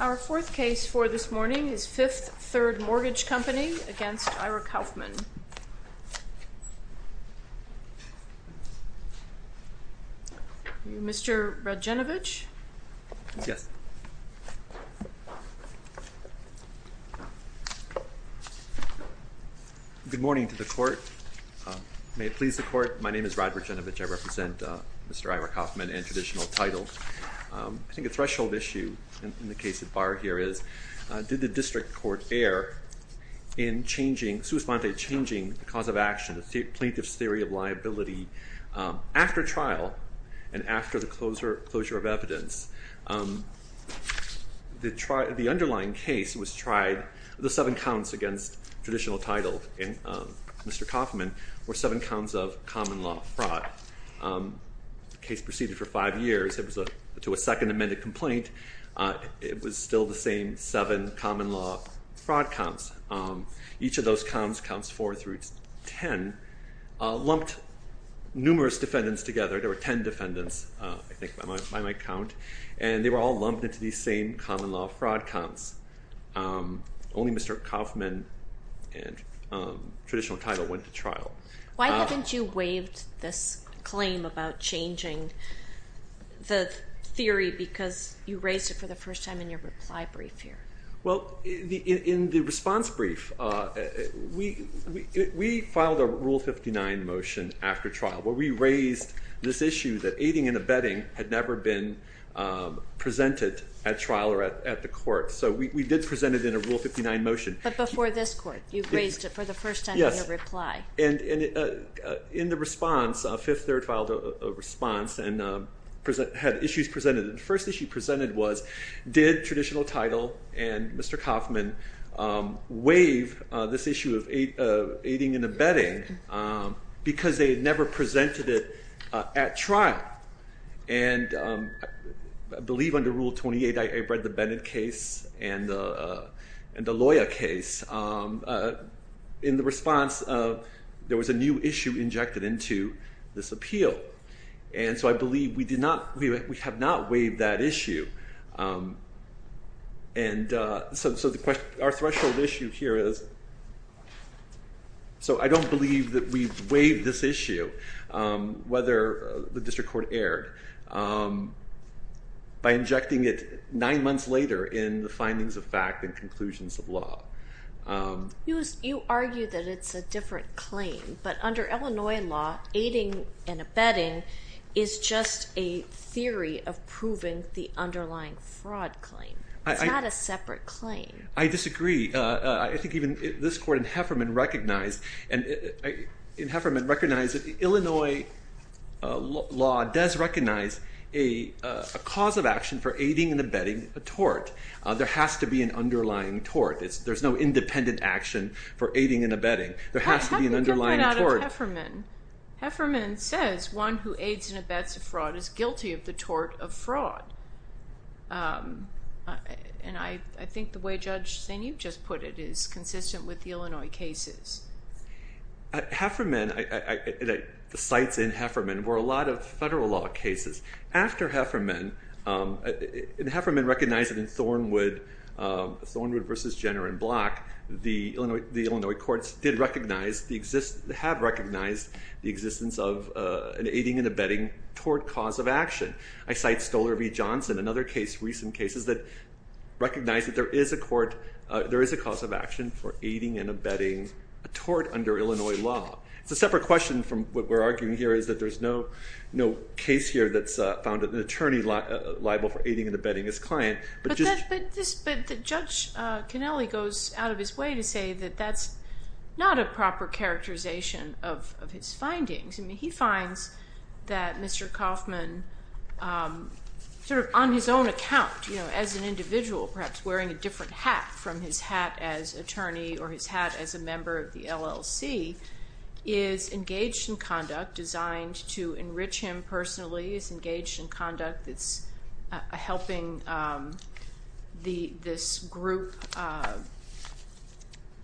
Our fourth case for this morning is Fifth Third Mortgage Company against Ira Kaufman. Mr. Radjanovich? Yes. Good morning to the court. May it please the court. My name is Rod Radjanovich. I represent Mr. Ira Kaufman in traditional title. I think a threshold issue in the case of Barr here is, did the district court err in changing, sui sponte, changing the cause of action, the plaintiff's theory of liability after trial and after the closure of evidence? The underlying case was tried, the seven counts against traditional title in Mr. Kaufman were seven counts of common law fraud. The case proceeded for five years. It was to a second amended complaint. It was still the same seven common law fraud counts. Each of those counts, counts four through ten, lumped numerous defendants together. There were ten defendants, I think by my count, and they were all lumped into these same common law fraud counts. Only Mr. Kaufman and traditional title went to trial. Why haven't you waived this claim about changing the theory because you raised it for the first time in your reply brief here? Well, in the response brief, we filed a Rule 59 motion after trial where we raised this issue that aiding and abetting had never been presented at trial or at the court. So we did present it in a Rule 59 motion. But before this court, you raised it for the first time in your reply. Yes, and in the response, Fifth Third filed a response and had issues presented. The first issue presented was, did traditional title and Mr. Kaufman waive this issue of aiding and abetting because they had never presented it at trial? And I believe under Rule 28, I read the Bennett case and the Loya case. In the response, there was a new issue injected into this appeal. And so I believe we have not waived that issue. And so our threshold issue here is, so I don't believe that we've waived this issue, whether the district court erred, by injecting it nine months later in the findings of fact and conclusions of law. You argue that it's a different claim, but under Illinois law, aiding and abetting is just a theory of proving the underlying fraud claim. It's not a separate claim. I disagree. I think even this court in Hefferman recognized that Illinois law does recognize a cause of action for aiding and abetting a tort. There has to be an underlying tort. There's no independent action for aiding and abetting. How do you get rid of Hefferman? Hefferman says one who aids and abets a fraud is guilty of the tort of fraud. And I think the way Judge Sinew just put it is consistent with the Illinois cases. Hefferman, the sites in Hefferman were a lot of federal law cases. After Hefferman, and Hefferman recognized it in Thornwood versus Jenner and Block, the Illinois courts did recognize, have recognized the existence of an aiding and abetting tort cause of action. I cite Stoler v. Johnson, another case, recent cases that recognize that there is a court, there is a cause of action for aiding and abetting a tort under Illinois law. It's a separate question from what we're arguing here is that there's no case here that's found an attorney liable for aiding and abetting his client. But Judge Kennelly goes out of his way to say that that's not a proper characterization of his findings. He finds that Mr. Kaufman, sort of on his own account, as an individual, perhaps wearing a different hat from his hat as attorney or his hat as a member of the LLC, is engaged in conduct designed to enrich him personally. He's engaged in conduct that's helping this group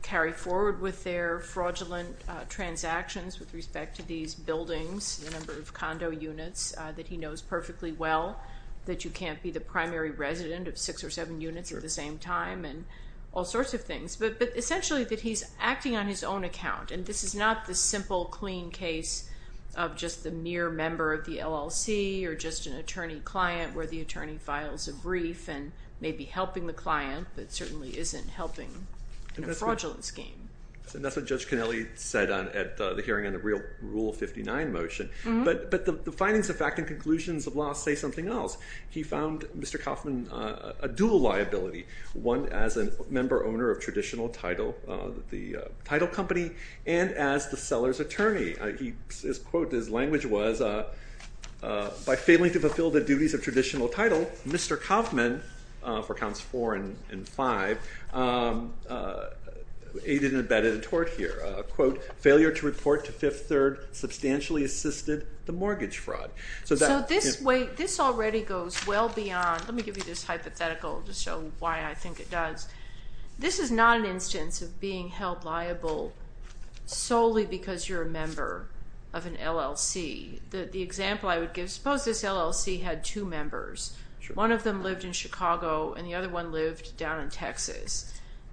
carry forward with their fraudulent transactions with respect to these buildings, the number of condo units that he knows perfectly well, that you can't be the primary resident of six or seven units at the same time, and all sorts of things. But essentially that he's acting on his own account, and this is not the simple, clean case of just the mere member of the LLC or just an attorney-client where the attorney files a brief and may be helping the client, but certainly isn't helping in a fraudulent scheme. And that's what Judge Kennelly said at the hearing on the Rule 59 motion. But the findings of fact and conclusions of law say something else. He found Mr. Kaufman a dual liability, one as a member owner of traditional title, the title company, and as the seller's attorney. His quote, his language was, by failing to fulfill the duties of traditional title, Mr. Kaufman, for counts four and five, aided and abetted a tort here. Quote, failure to report to Fifth Third substantially assisted the mortgage fraud. So this way, this already goes well beyond, let me give you this hypothetical to show why I think it does. This is not an instance of being held liable solely because you're a member of an LLC. The example I would give, suppose this LLC had two members. One of them lived in Chicago and the other one lived down in Texas.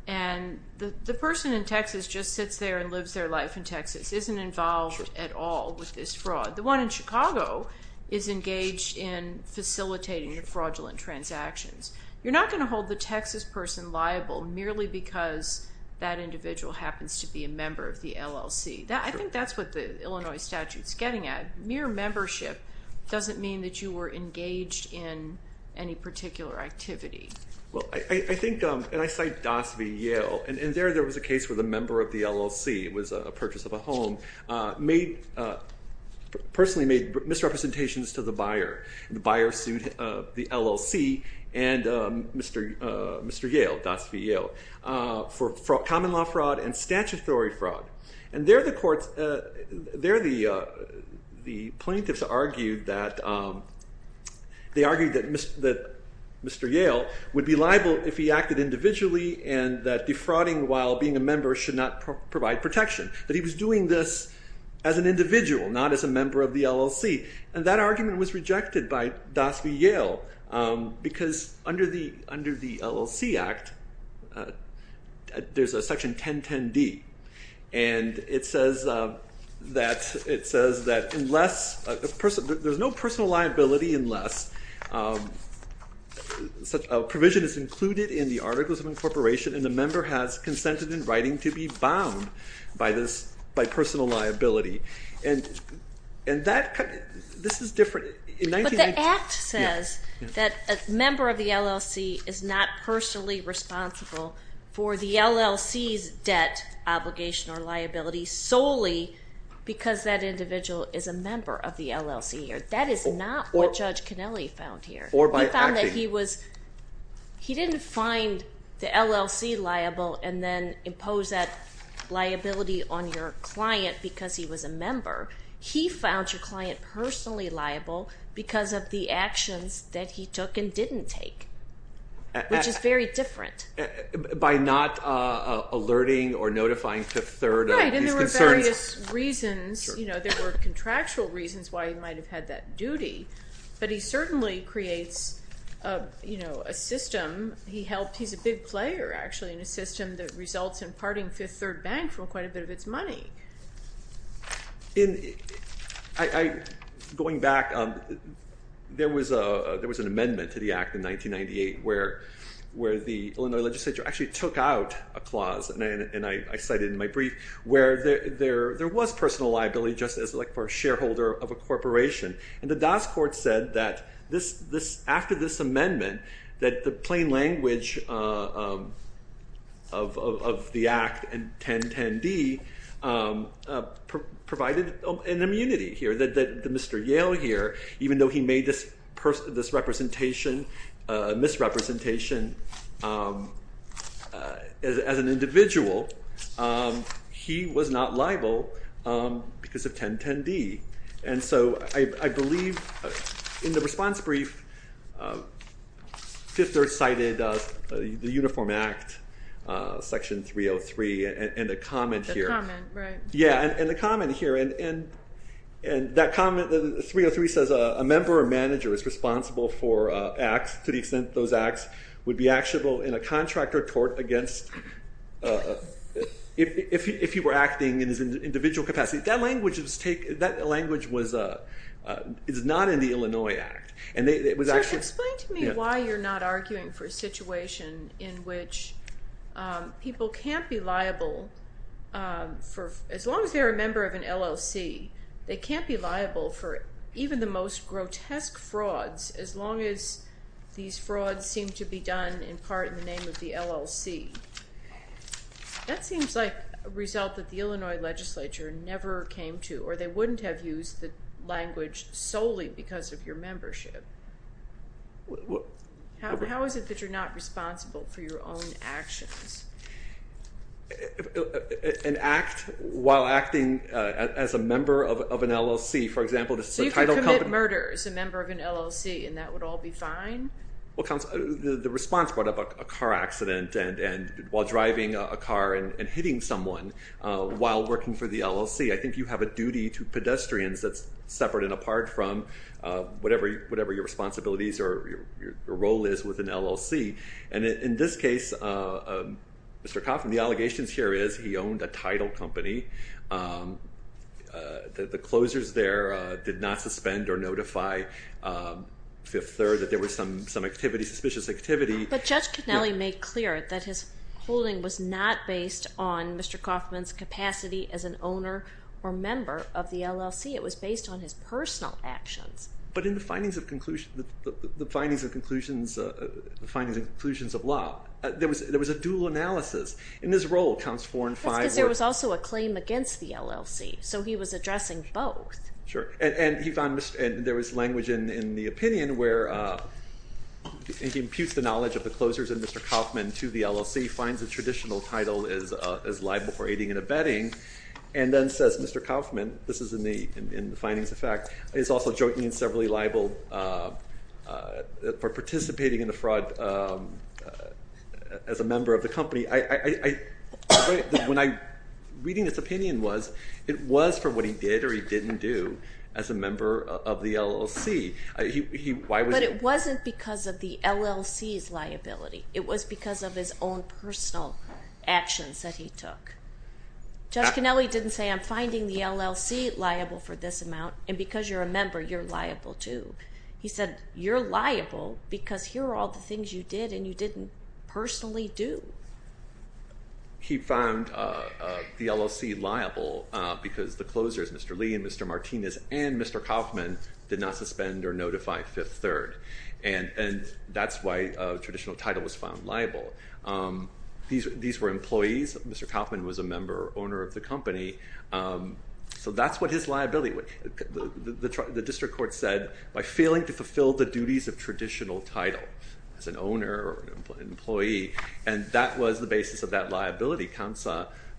And the person in Texas just sits there and lives their life in Texas, isn't involved at all with this fraud. The one in Chicago is engaged in facilitating the fraudulent transactions. You're not going to hold the Texas person liable merely because that individual happens to be a member of the LLC. I think that's what the Illinois statute's getting at. Mere membership doesn't mean that you were engaged in any particular activity. Well, I think, and I cite Doss v. Yale, and there there was a case where the member of the LLC, it was a purchase of a home, personally made misrepresentations to the buyer. The buyer sued the LLC and Mr. Yale, Doss v. Yale, for common law fraud and statutory fraud. And there the plaintiffs argued that Mr. Yale would be liable if he acted individually and that defrauding while being a member should not provide protection, that he was doing this as an individual, not as a member of the LLC. And that argument was rejected by Doss v. Yale because under the LLC Act, there's a section 1010D and it says that unless, there's no personal liability unless a provision is included in the articles of incorporation and the member has consented in writing to be bound by personal liability. And that, this is different. But the Act says that a member of the LLC is not personally responsible for the LLC's debt obligation or liability solely because that individual is a member of the LLC. That is not what Judge Kennelly found here. Or by acting. He didn't find the LLC liable and then impose that liability on your client because he was a member. He found your client personally liable because of the actions that he took and didn't take, which is very different. By not alerting or notifying a third of these concerns. There were contractual reasons why he might have had that duty, but he certainly creates a system. He's a big player, actually, in a system that results in parting Fifth Third Bank from quite a bit of its money. Going back, there was an amendment to the Act in 1998 where the Illinois legislature actually took out a clause, and I cited in my brief, where there was personal liability just as like for a shareholder of a corporation. And the DAS court said that after this amendment, that the plain language of the Act and 1010D provided an immunity here, that Mr. Yale here, even though he made this misrepresentation as an individual, he was not liable because of 1010D. And so I believe in the response brief, Fifth Third cited the Uniform Act, Section 303, and the comment here. The comment, right. It's not in the Illinois Act. solely because of your membership. How is it that you're not responsible for your own actions? An act while acting as a member of an LLC, for example, the title company. So you could commit murder as a member of an LLC, and that would all be fine? Well, the response brought up a car accident, and while driving a car and hitting someone while working for the LLC, I think you have a duty to pedestrians that's separate and apart from whatever your responsibilities or your role is with an LLC. And in this case, Mr. Kauffman, the allegations here is he owned a title company. The closers there did not suspend or notify Fifth Third that there was some activity, suspicious activity. But Judge Cannelli made clear that his holding was not based on Mr. Kauffman's capacity as an owner or member of the LLC. It was based on his personal actions. But in the findings of conclusion, the findings and conclusions of law, there was a dual analysis. In his role, counts four and five. That's because there was also a claim against the LLC, so he was addressing both. Sure. And he found there was language in the opinion where he imputes the knowledge of the closers and Mr. Kauffman to the LLC, finds the traditional title is liable for aiding and abetting, and then says, Mr. Kauffman, this is in the findings of fact, is also jointly and severally liable for participating in the fraud as a member of the company. Reading this opinion was, it was for what he did or he didn't do as a member of the LLC. But it wasn't because of the LLC's liability. It was because of his own personal actions that he took. Judge Cannelli didn't say, I'm finding the LLC liable for this amount, and because you're a member, you're liable too. He said, you're liable because here are all the things you did and you didn't personally do. He found the LLC liable because the closers, Mr. Lee and Mr. Martinez and Mr. Kauffman, did not suspend or notify Fifth Third. And that's why traditional title was found liable. These were employees. Mr. Kauffman was a member or owner of the company. So that's what his liability was. The district court said, by failing to fulfill the duties of traditional title as an owner or an employee, and that was the basis of that liability. Counts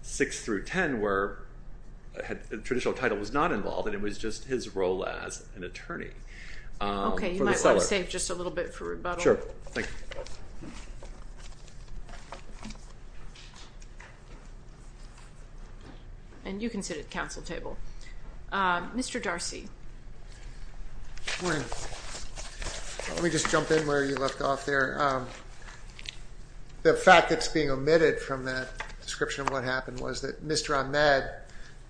6 through 10 where traditional title was not involved and it was just his role as an attorney. Okay, you might want to save just a little bit for rebuttal. Sure. Thank you. And you can sit at the council table. Mr. Darcy. Good morning. Let me just jump in where you left off there. The fact that's being omitted from that description of what happened was that Mr. Ahmed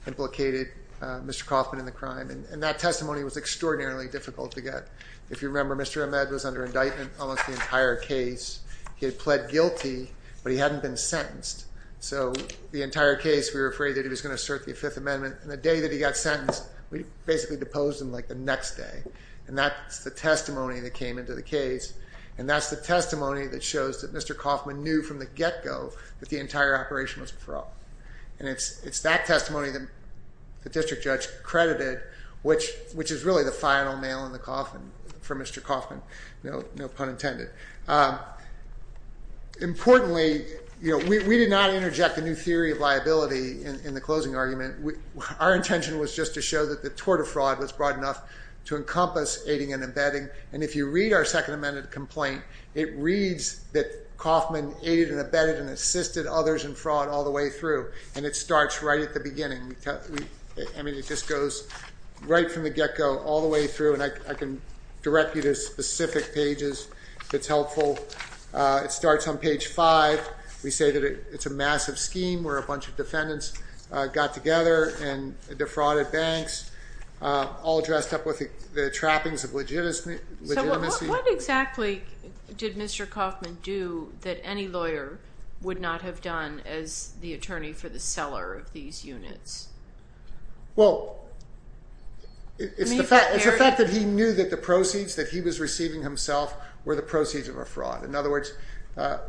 implicated Mr. Kauffman in the crime. And that testimony was extraordinarily difficult to get. If you remember, Mr. Ahmed was under indictment almost the entire case. He had pled guilty, but he hadn't been sentenced. So the entire case, we were afraid that he was going to assert the Fifth Amendment. And the day that he got sentenced, we basically deposed him like the next day. And that's the testimony that came into the case. And that's the testimony that shows that Mr. Kauffman knew from the get-go that the entire operation was fraught. And it's that testimony that the district judge credited, which is really the final nail in the coffin for Mr. Kauffman. No pun intended. Importantly, we did not interject a new theory of liability in the closing argument. Our intention was just to show that the tort of fraud was broad enough to encompass aiding and abetting. And if you read our Second Amendment complaint, it reads that Kauffman aided and abetted and assisted others in fraud all the way through. And it starts right at the beginning. I mean, it just goes right from the get-go all the way through. And I can direct you to specific pages if it's helpful. It starts on page 5. We say that it's a massive scheme where a bunch of defendants got together and defrauded banks, all dressed up with the trappings of legitimacy. So what exactly did Mr. Kauffman do that any lawyer would not have done as the attorney for the seller of these units? Well, it's the fact that he knew that the proceeds that he was receiving himself were the proceeds of a fraud. In other words,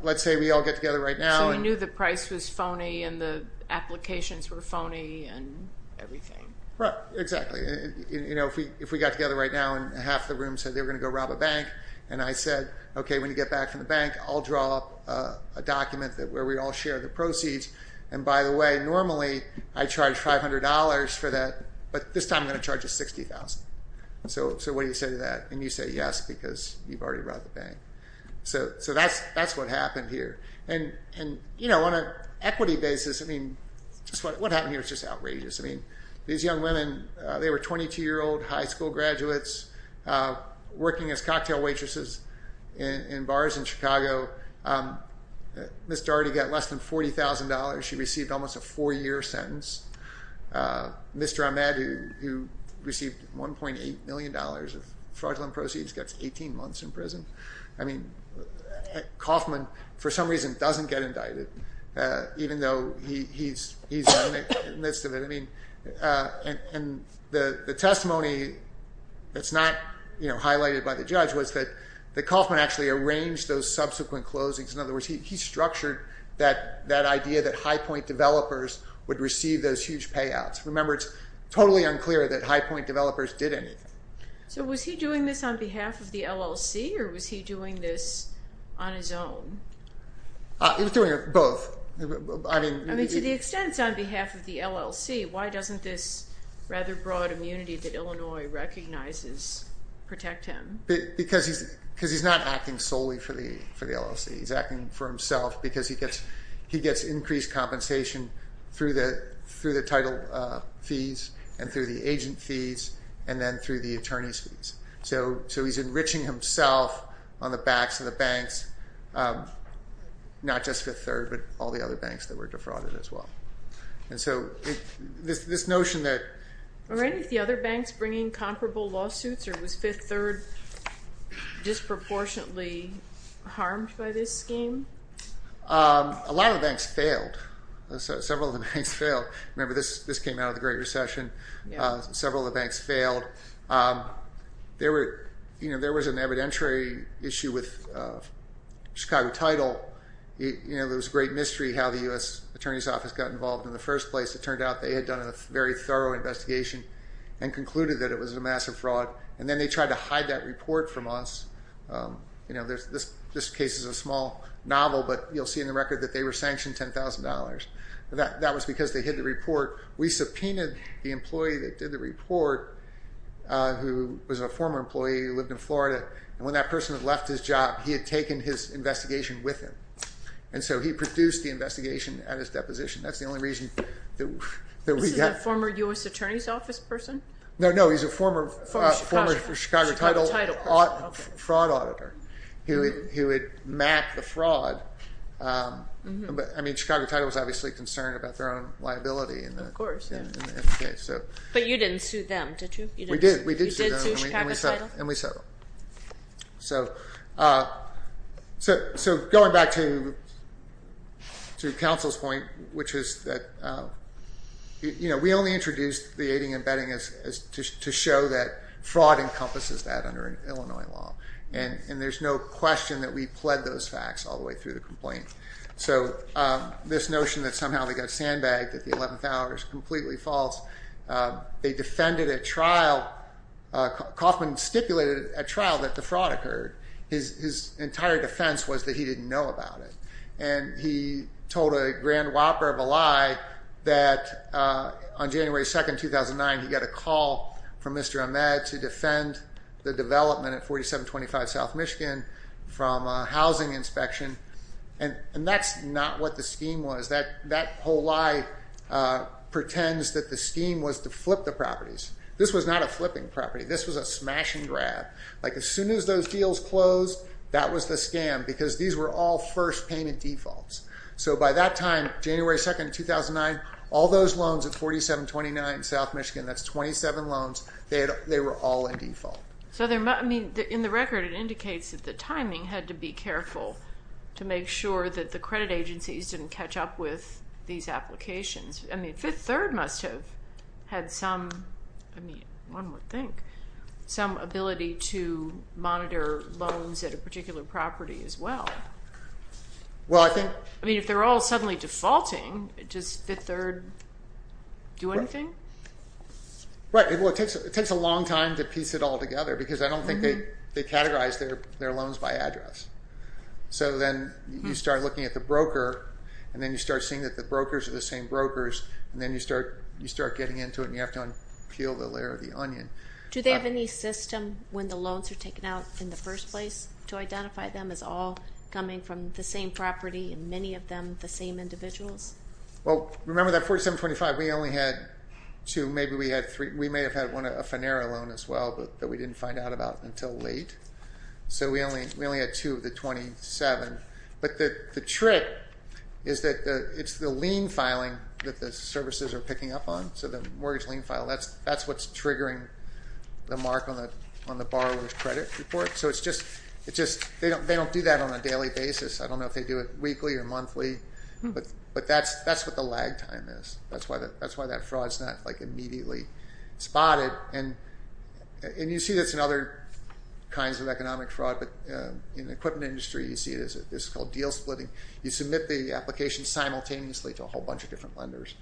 let's say we all get together right now. So he knew the price was phony and the applications were phony and everything. Right, exactly. You know, if we got together right now and half the room said they were going to go rob a bank, and I said, okay, when you get back from the bank, I'll draw up a document where we all share the proceeds. And by the way, normally I charge $500 for that, but this time I'm going to charge $60,000. So what do you say to that? And you say yes because you've already robbed the bank. So that's what happened here. And, you know, on an equity basis, I mean, what happened here was just outrageous. I mean, these young women, they were 22-year-old high school graduates working as cocktail waitresses in bars in Chicago. Mr. Ardy got less than $40,000. She received almost a four-year sentence. Mr. Ahmed, who received $1.8 million of fraudulent proceeds, gets 18 months in prison. I mean, Kaufman, for some reason, doesn't get indicted, even though he's in the midst of it. And the testimony that's not highlighted by the judge was that Kaufman actually arranged those subsequent closings. In other words, he structured that idea that high-point developers would receive those huge payouts. Remember, it's totally unclear that high-point developers did anything. So was he doing this on behalf of the LLC, or was he doing this on his own? He was doing both. I mean, to the extent it's on behalf of the LLC, why doesn't this rather broad immunity that Illinois recognizes protect him? Because he's not acting solely for the LLC. He's acting for himself because he gets increased compensation through the title fees and through the agent fees and then through the attorney's fees. So he's enriching himself on the backs of the banks, not just Fifth Third, but all the other banks that were defrauded as well. And so this notion that— Were any of the other banks bringing comparable lawsuits, or was Fifth Third disproportionately harmed by this scheme? A lot of the banks failed. Several of the banks failed. Remember, this came out of the Great Recession. Several of the banks failed. There was an evidentiary issue with Chicago Title. It was a great mystery how the U.S. Attorney's Office got involved in the first place. It turned out they had done a very thorough investigation and concluded that it was a massive fraud. And then they tried to hide that report from us. This case is a small novel, but you'll see in the record that they were sanctioned $10,000. That was because they hid the report. We subpoenaed the employee that did the report, who was a former employee who lived in Florida. And when that person had left his job, he had taken his investigation with him. And so he produced the investigation at his deposition. That's the only reason that we have— This is a former U.S. Attorney's Office person? No, no. He's a former Chicago Title fraud auditor who had mapped the fraud. I mean, Chicago Title was obviously concerned about their own liability in the case. But you didn't sue them, did you? We did. We did sue them. You did sue Chicago Title? And we settled. So going back to counsel's point, which is that we only introduced the aiding and abetting to show that fraud encompasses that under Illinois law. And there's no question that we pled those facts all the way through the complaint. So this notion that somehow they got sandbagged at the 11th hour is completely false. They defended a trial—Coffman stipulated a trial that the fraud occurred. His entire defense was that he didn't know about it. And he told a grand whopper of a lie that on January 2, 2009, he got a call from Mr. Ahmed to defend the development at 4725 South Michigan from a housing inspection. And that's not what the scheme was. That whole lie pretends that the scheme was to flip the properties. This was not a flipping property. This was a smashing grab. Like as soon as those deals closed, that was the scam because these were all first payment defaults. So by that time, January 2, 2009, all those loans at 4729 South Michigan, that's 27 loans, they were all in default. So in the record, it indicates that the timing had to be careful to make sure that the credit agencies didn't catch up with these applications. Fifth Third must have had some ability to monitor loans at a particular property as well. If they're all suddenly defaulting, does Fifth Third do anything? It takes a long time to piece it all together because I don't think they categorize their loans by address. So then you start looking at the broker, and then you start seeing that the brokers are the same brokers. And then you start getting into it, and you have to unpeel the layer of the onion. Do they have any system when the loans are taken out in the first place to identify them as all coming from the same property and many of them the same individuals? Well, remember that 4725, we only had two. Maybe we had three. We may have had one, a Finerra loan as well, but that we didn't find out about until late. So we only had two of the 27. But the trick is that it's the lien filing that the services are picking up on. So the mortgage lien file, that's what's triggering the mark on the borrower's credit report. So it's just they don't do that on a daily basis. I don't know if they do it weekly or monthly, but that's what the lag time is. That's why that fraud's not immediately spotted. And you see this in other kinds of economic fraud. But in the equipment industry, you see this is called deal splitting. You submit the application simultaneously to a whole bunch of different lenders,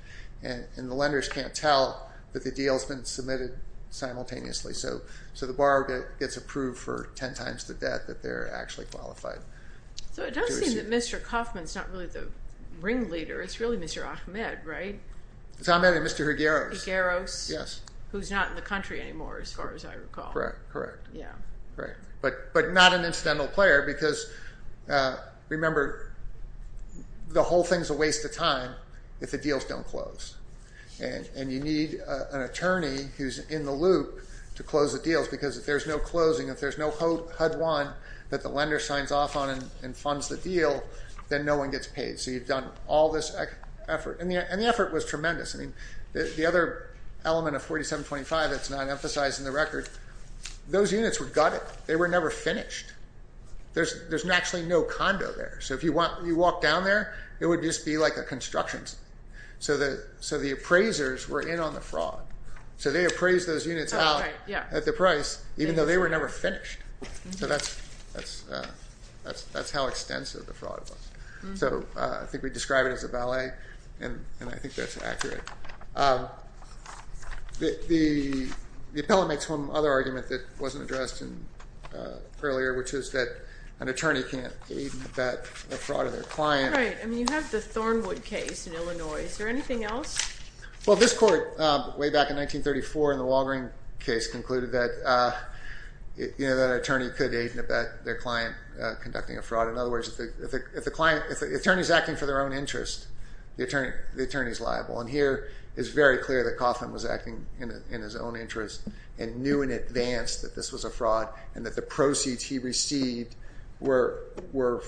and the lenders can't tell that the deal's been submitted simultaneously. So the borrower gets approved for ten times the debt that they're actually qualified. So it does seem that Mr. Kaufman's not really the ringleader. It's really Mr. Ahmed, right? It's Ahmed and Mr. Higueros. Higueros. Yes. Who's not in the country anymore, as far as I recall. Correct, correct. Yeah. Correct. But not an incidental player because, remember, the whole thing's a waste of time if the deals don't close. And you need an attorney who's in the loop to close the deals because if there's no closing, if there's no HUD one that the lender signs off on and funds the deal, then no one gets paid. So you've done all this effort. And the effort was tremendous. I mean, the other element of 4725 that's not emphasized in the record, those units were gutted. They were never finished. There's actually no condo there. So if you walk down there, it would just be like a construction site. So the appraisers were in on the fraud. So they appraised those units out at the price, even though they were never finished. So that's how extensive the fraud was. So I think we describe it as a ballet, and I think that's accurate. The appellant makes one other argument that wasn't addressed earlier, which is that an attorney can't aid and abet the fraud of their client. Right. I mean, you have the Thornwood case in Illinois. Is there anything else? Well, this court, way back in 1934 in the Walgreen case, concluded that an attorney could aid and abet their client conducting a fraud. In other words, if the attorney is acting for their own interest, the attorney is liable. And here it's very clear that Coughlin was acting in his own interest and knew in advance that this was a fraud and that the proceeds he received were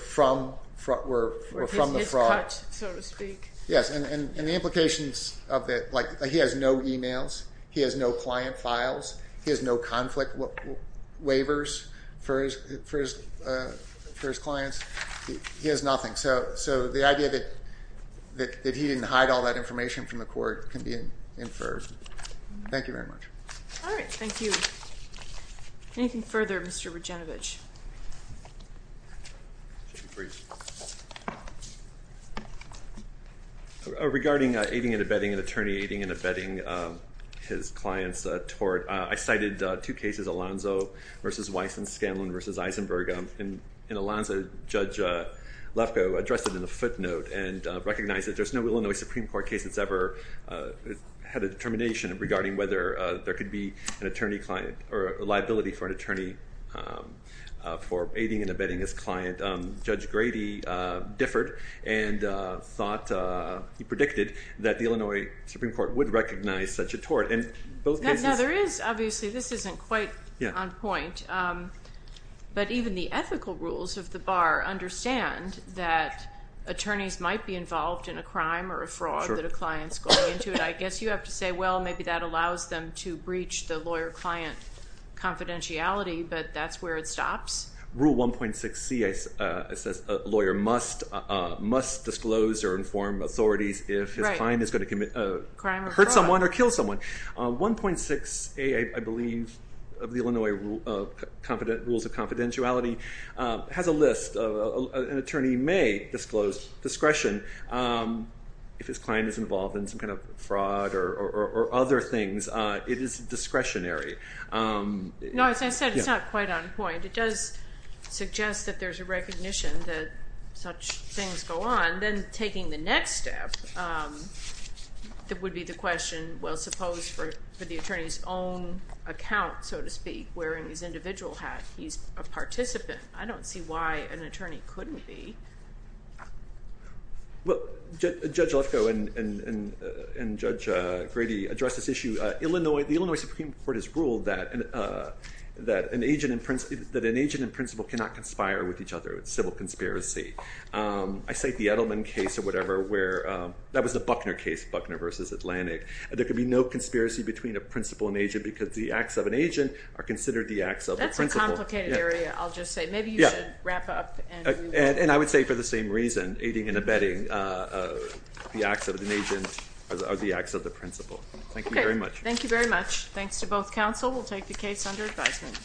from the fraud. His cut, so to speak. Yes, and the implications of that, like he has no e-mails, he has no client files, he has no conflict waivers for his clients. He has nothing. So the idea that he didn't hide all that information from the court can be inferred. Thank you very much. All right. Thank you. Anything further, Mr. Regenevich? Regarding aiding and abetting an attorney, aiding and abetting his client's tort, I cited two cases, Alonzo v. Weiss and Scanlon v. Eisenberg. In Alonzo, Judge Lefkoe addressed it in a footnote and recognized that there's no Illinois Supreme Court case that's ever had a determination regarding whether there could be a liability for an attorney for aiding and abetting his client. Judge Grady differed and he predicted that the Illinois Supreme Court would recognize such a tort. Now, there is, obviously, this isn't quite on point, but even the ethical rules of the bar understand that attorneys might be involved in a crime or a fraud that a client's going into. I guess you have to say, well, maybe that allows them to breach the lawyer-client confidentiality, but that's where it stops. Rule 1.6c says a lawyer must disclose or inform authorities if his client is going to hurt someone or kill someone. 1.6a, I believe, of the Illinois Rules of Confidentiality has a list. An attorney may disclose discretion if his client is involved in some kind of fraud or other things. It is discretionary. No, as I said, it's not quite on point. It does suggest that there's a recognition that such things go on. Then taking the next step, that would be the question, well, suppose for the attorney's own account, so to speak, wearing his individual hat, he's a participant. I don't see why an attorney couldn't be. Well, Judge Lefkoe and Judge Grady addressed this issue. The Illinois Supreme Court has ruled that an agent and principal cannot conspire with each other. It's a civil conspiracy. I cite the Edelman case or whatever where that was the Buckner case, Buckner versus Atlantic. There could be no conspiracy between a principal and agent because the acts of an agent are considered the acts of a principal. It's a complicated area, I'll just say. Maybe you should wrap up. And I would say for the same reason, aiding and abetting the acts of an agent are the acts of the principal. Thank you very much. Thank you very much. Thanks to both counsel. We'll take the case under advisement.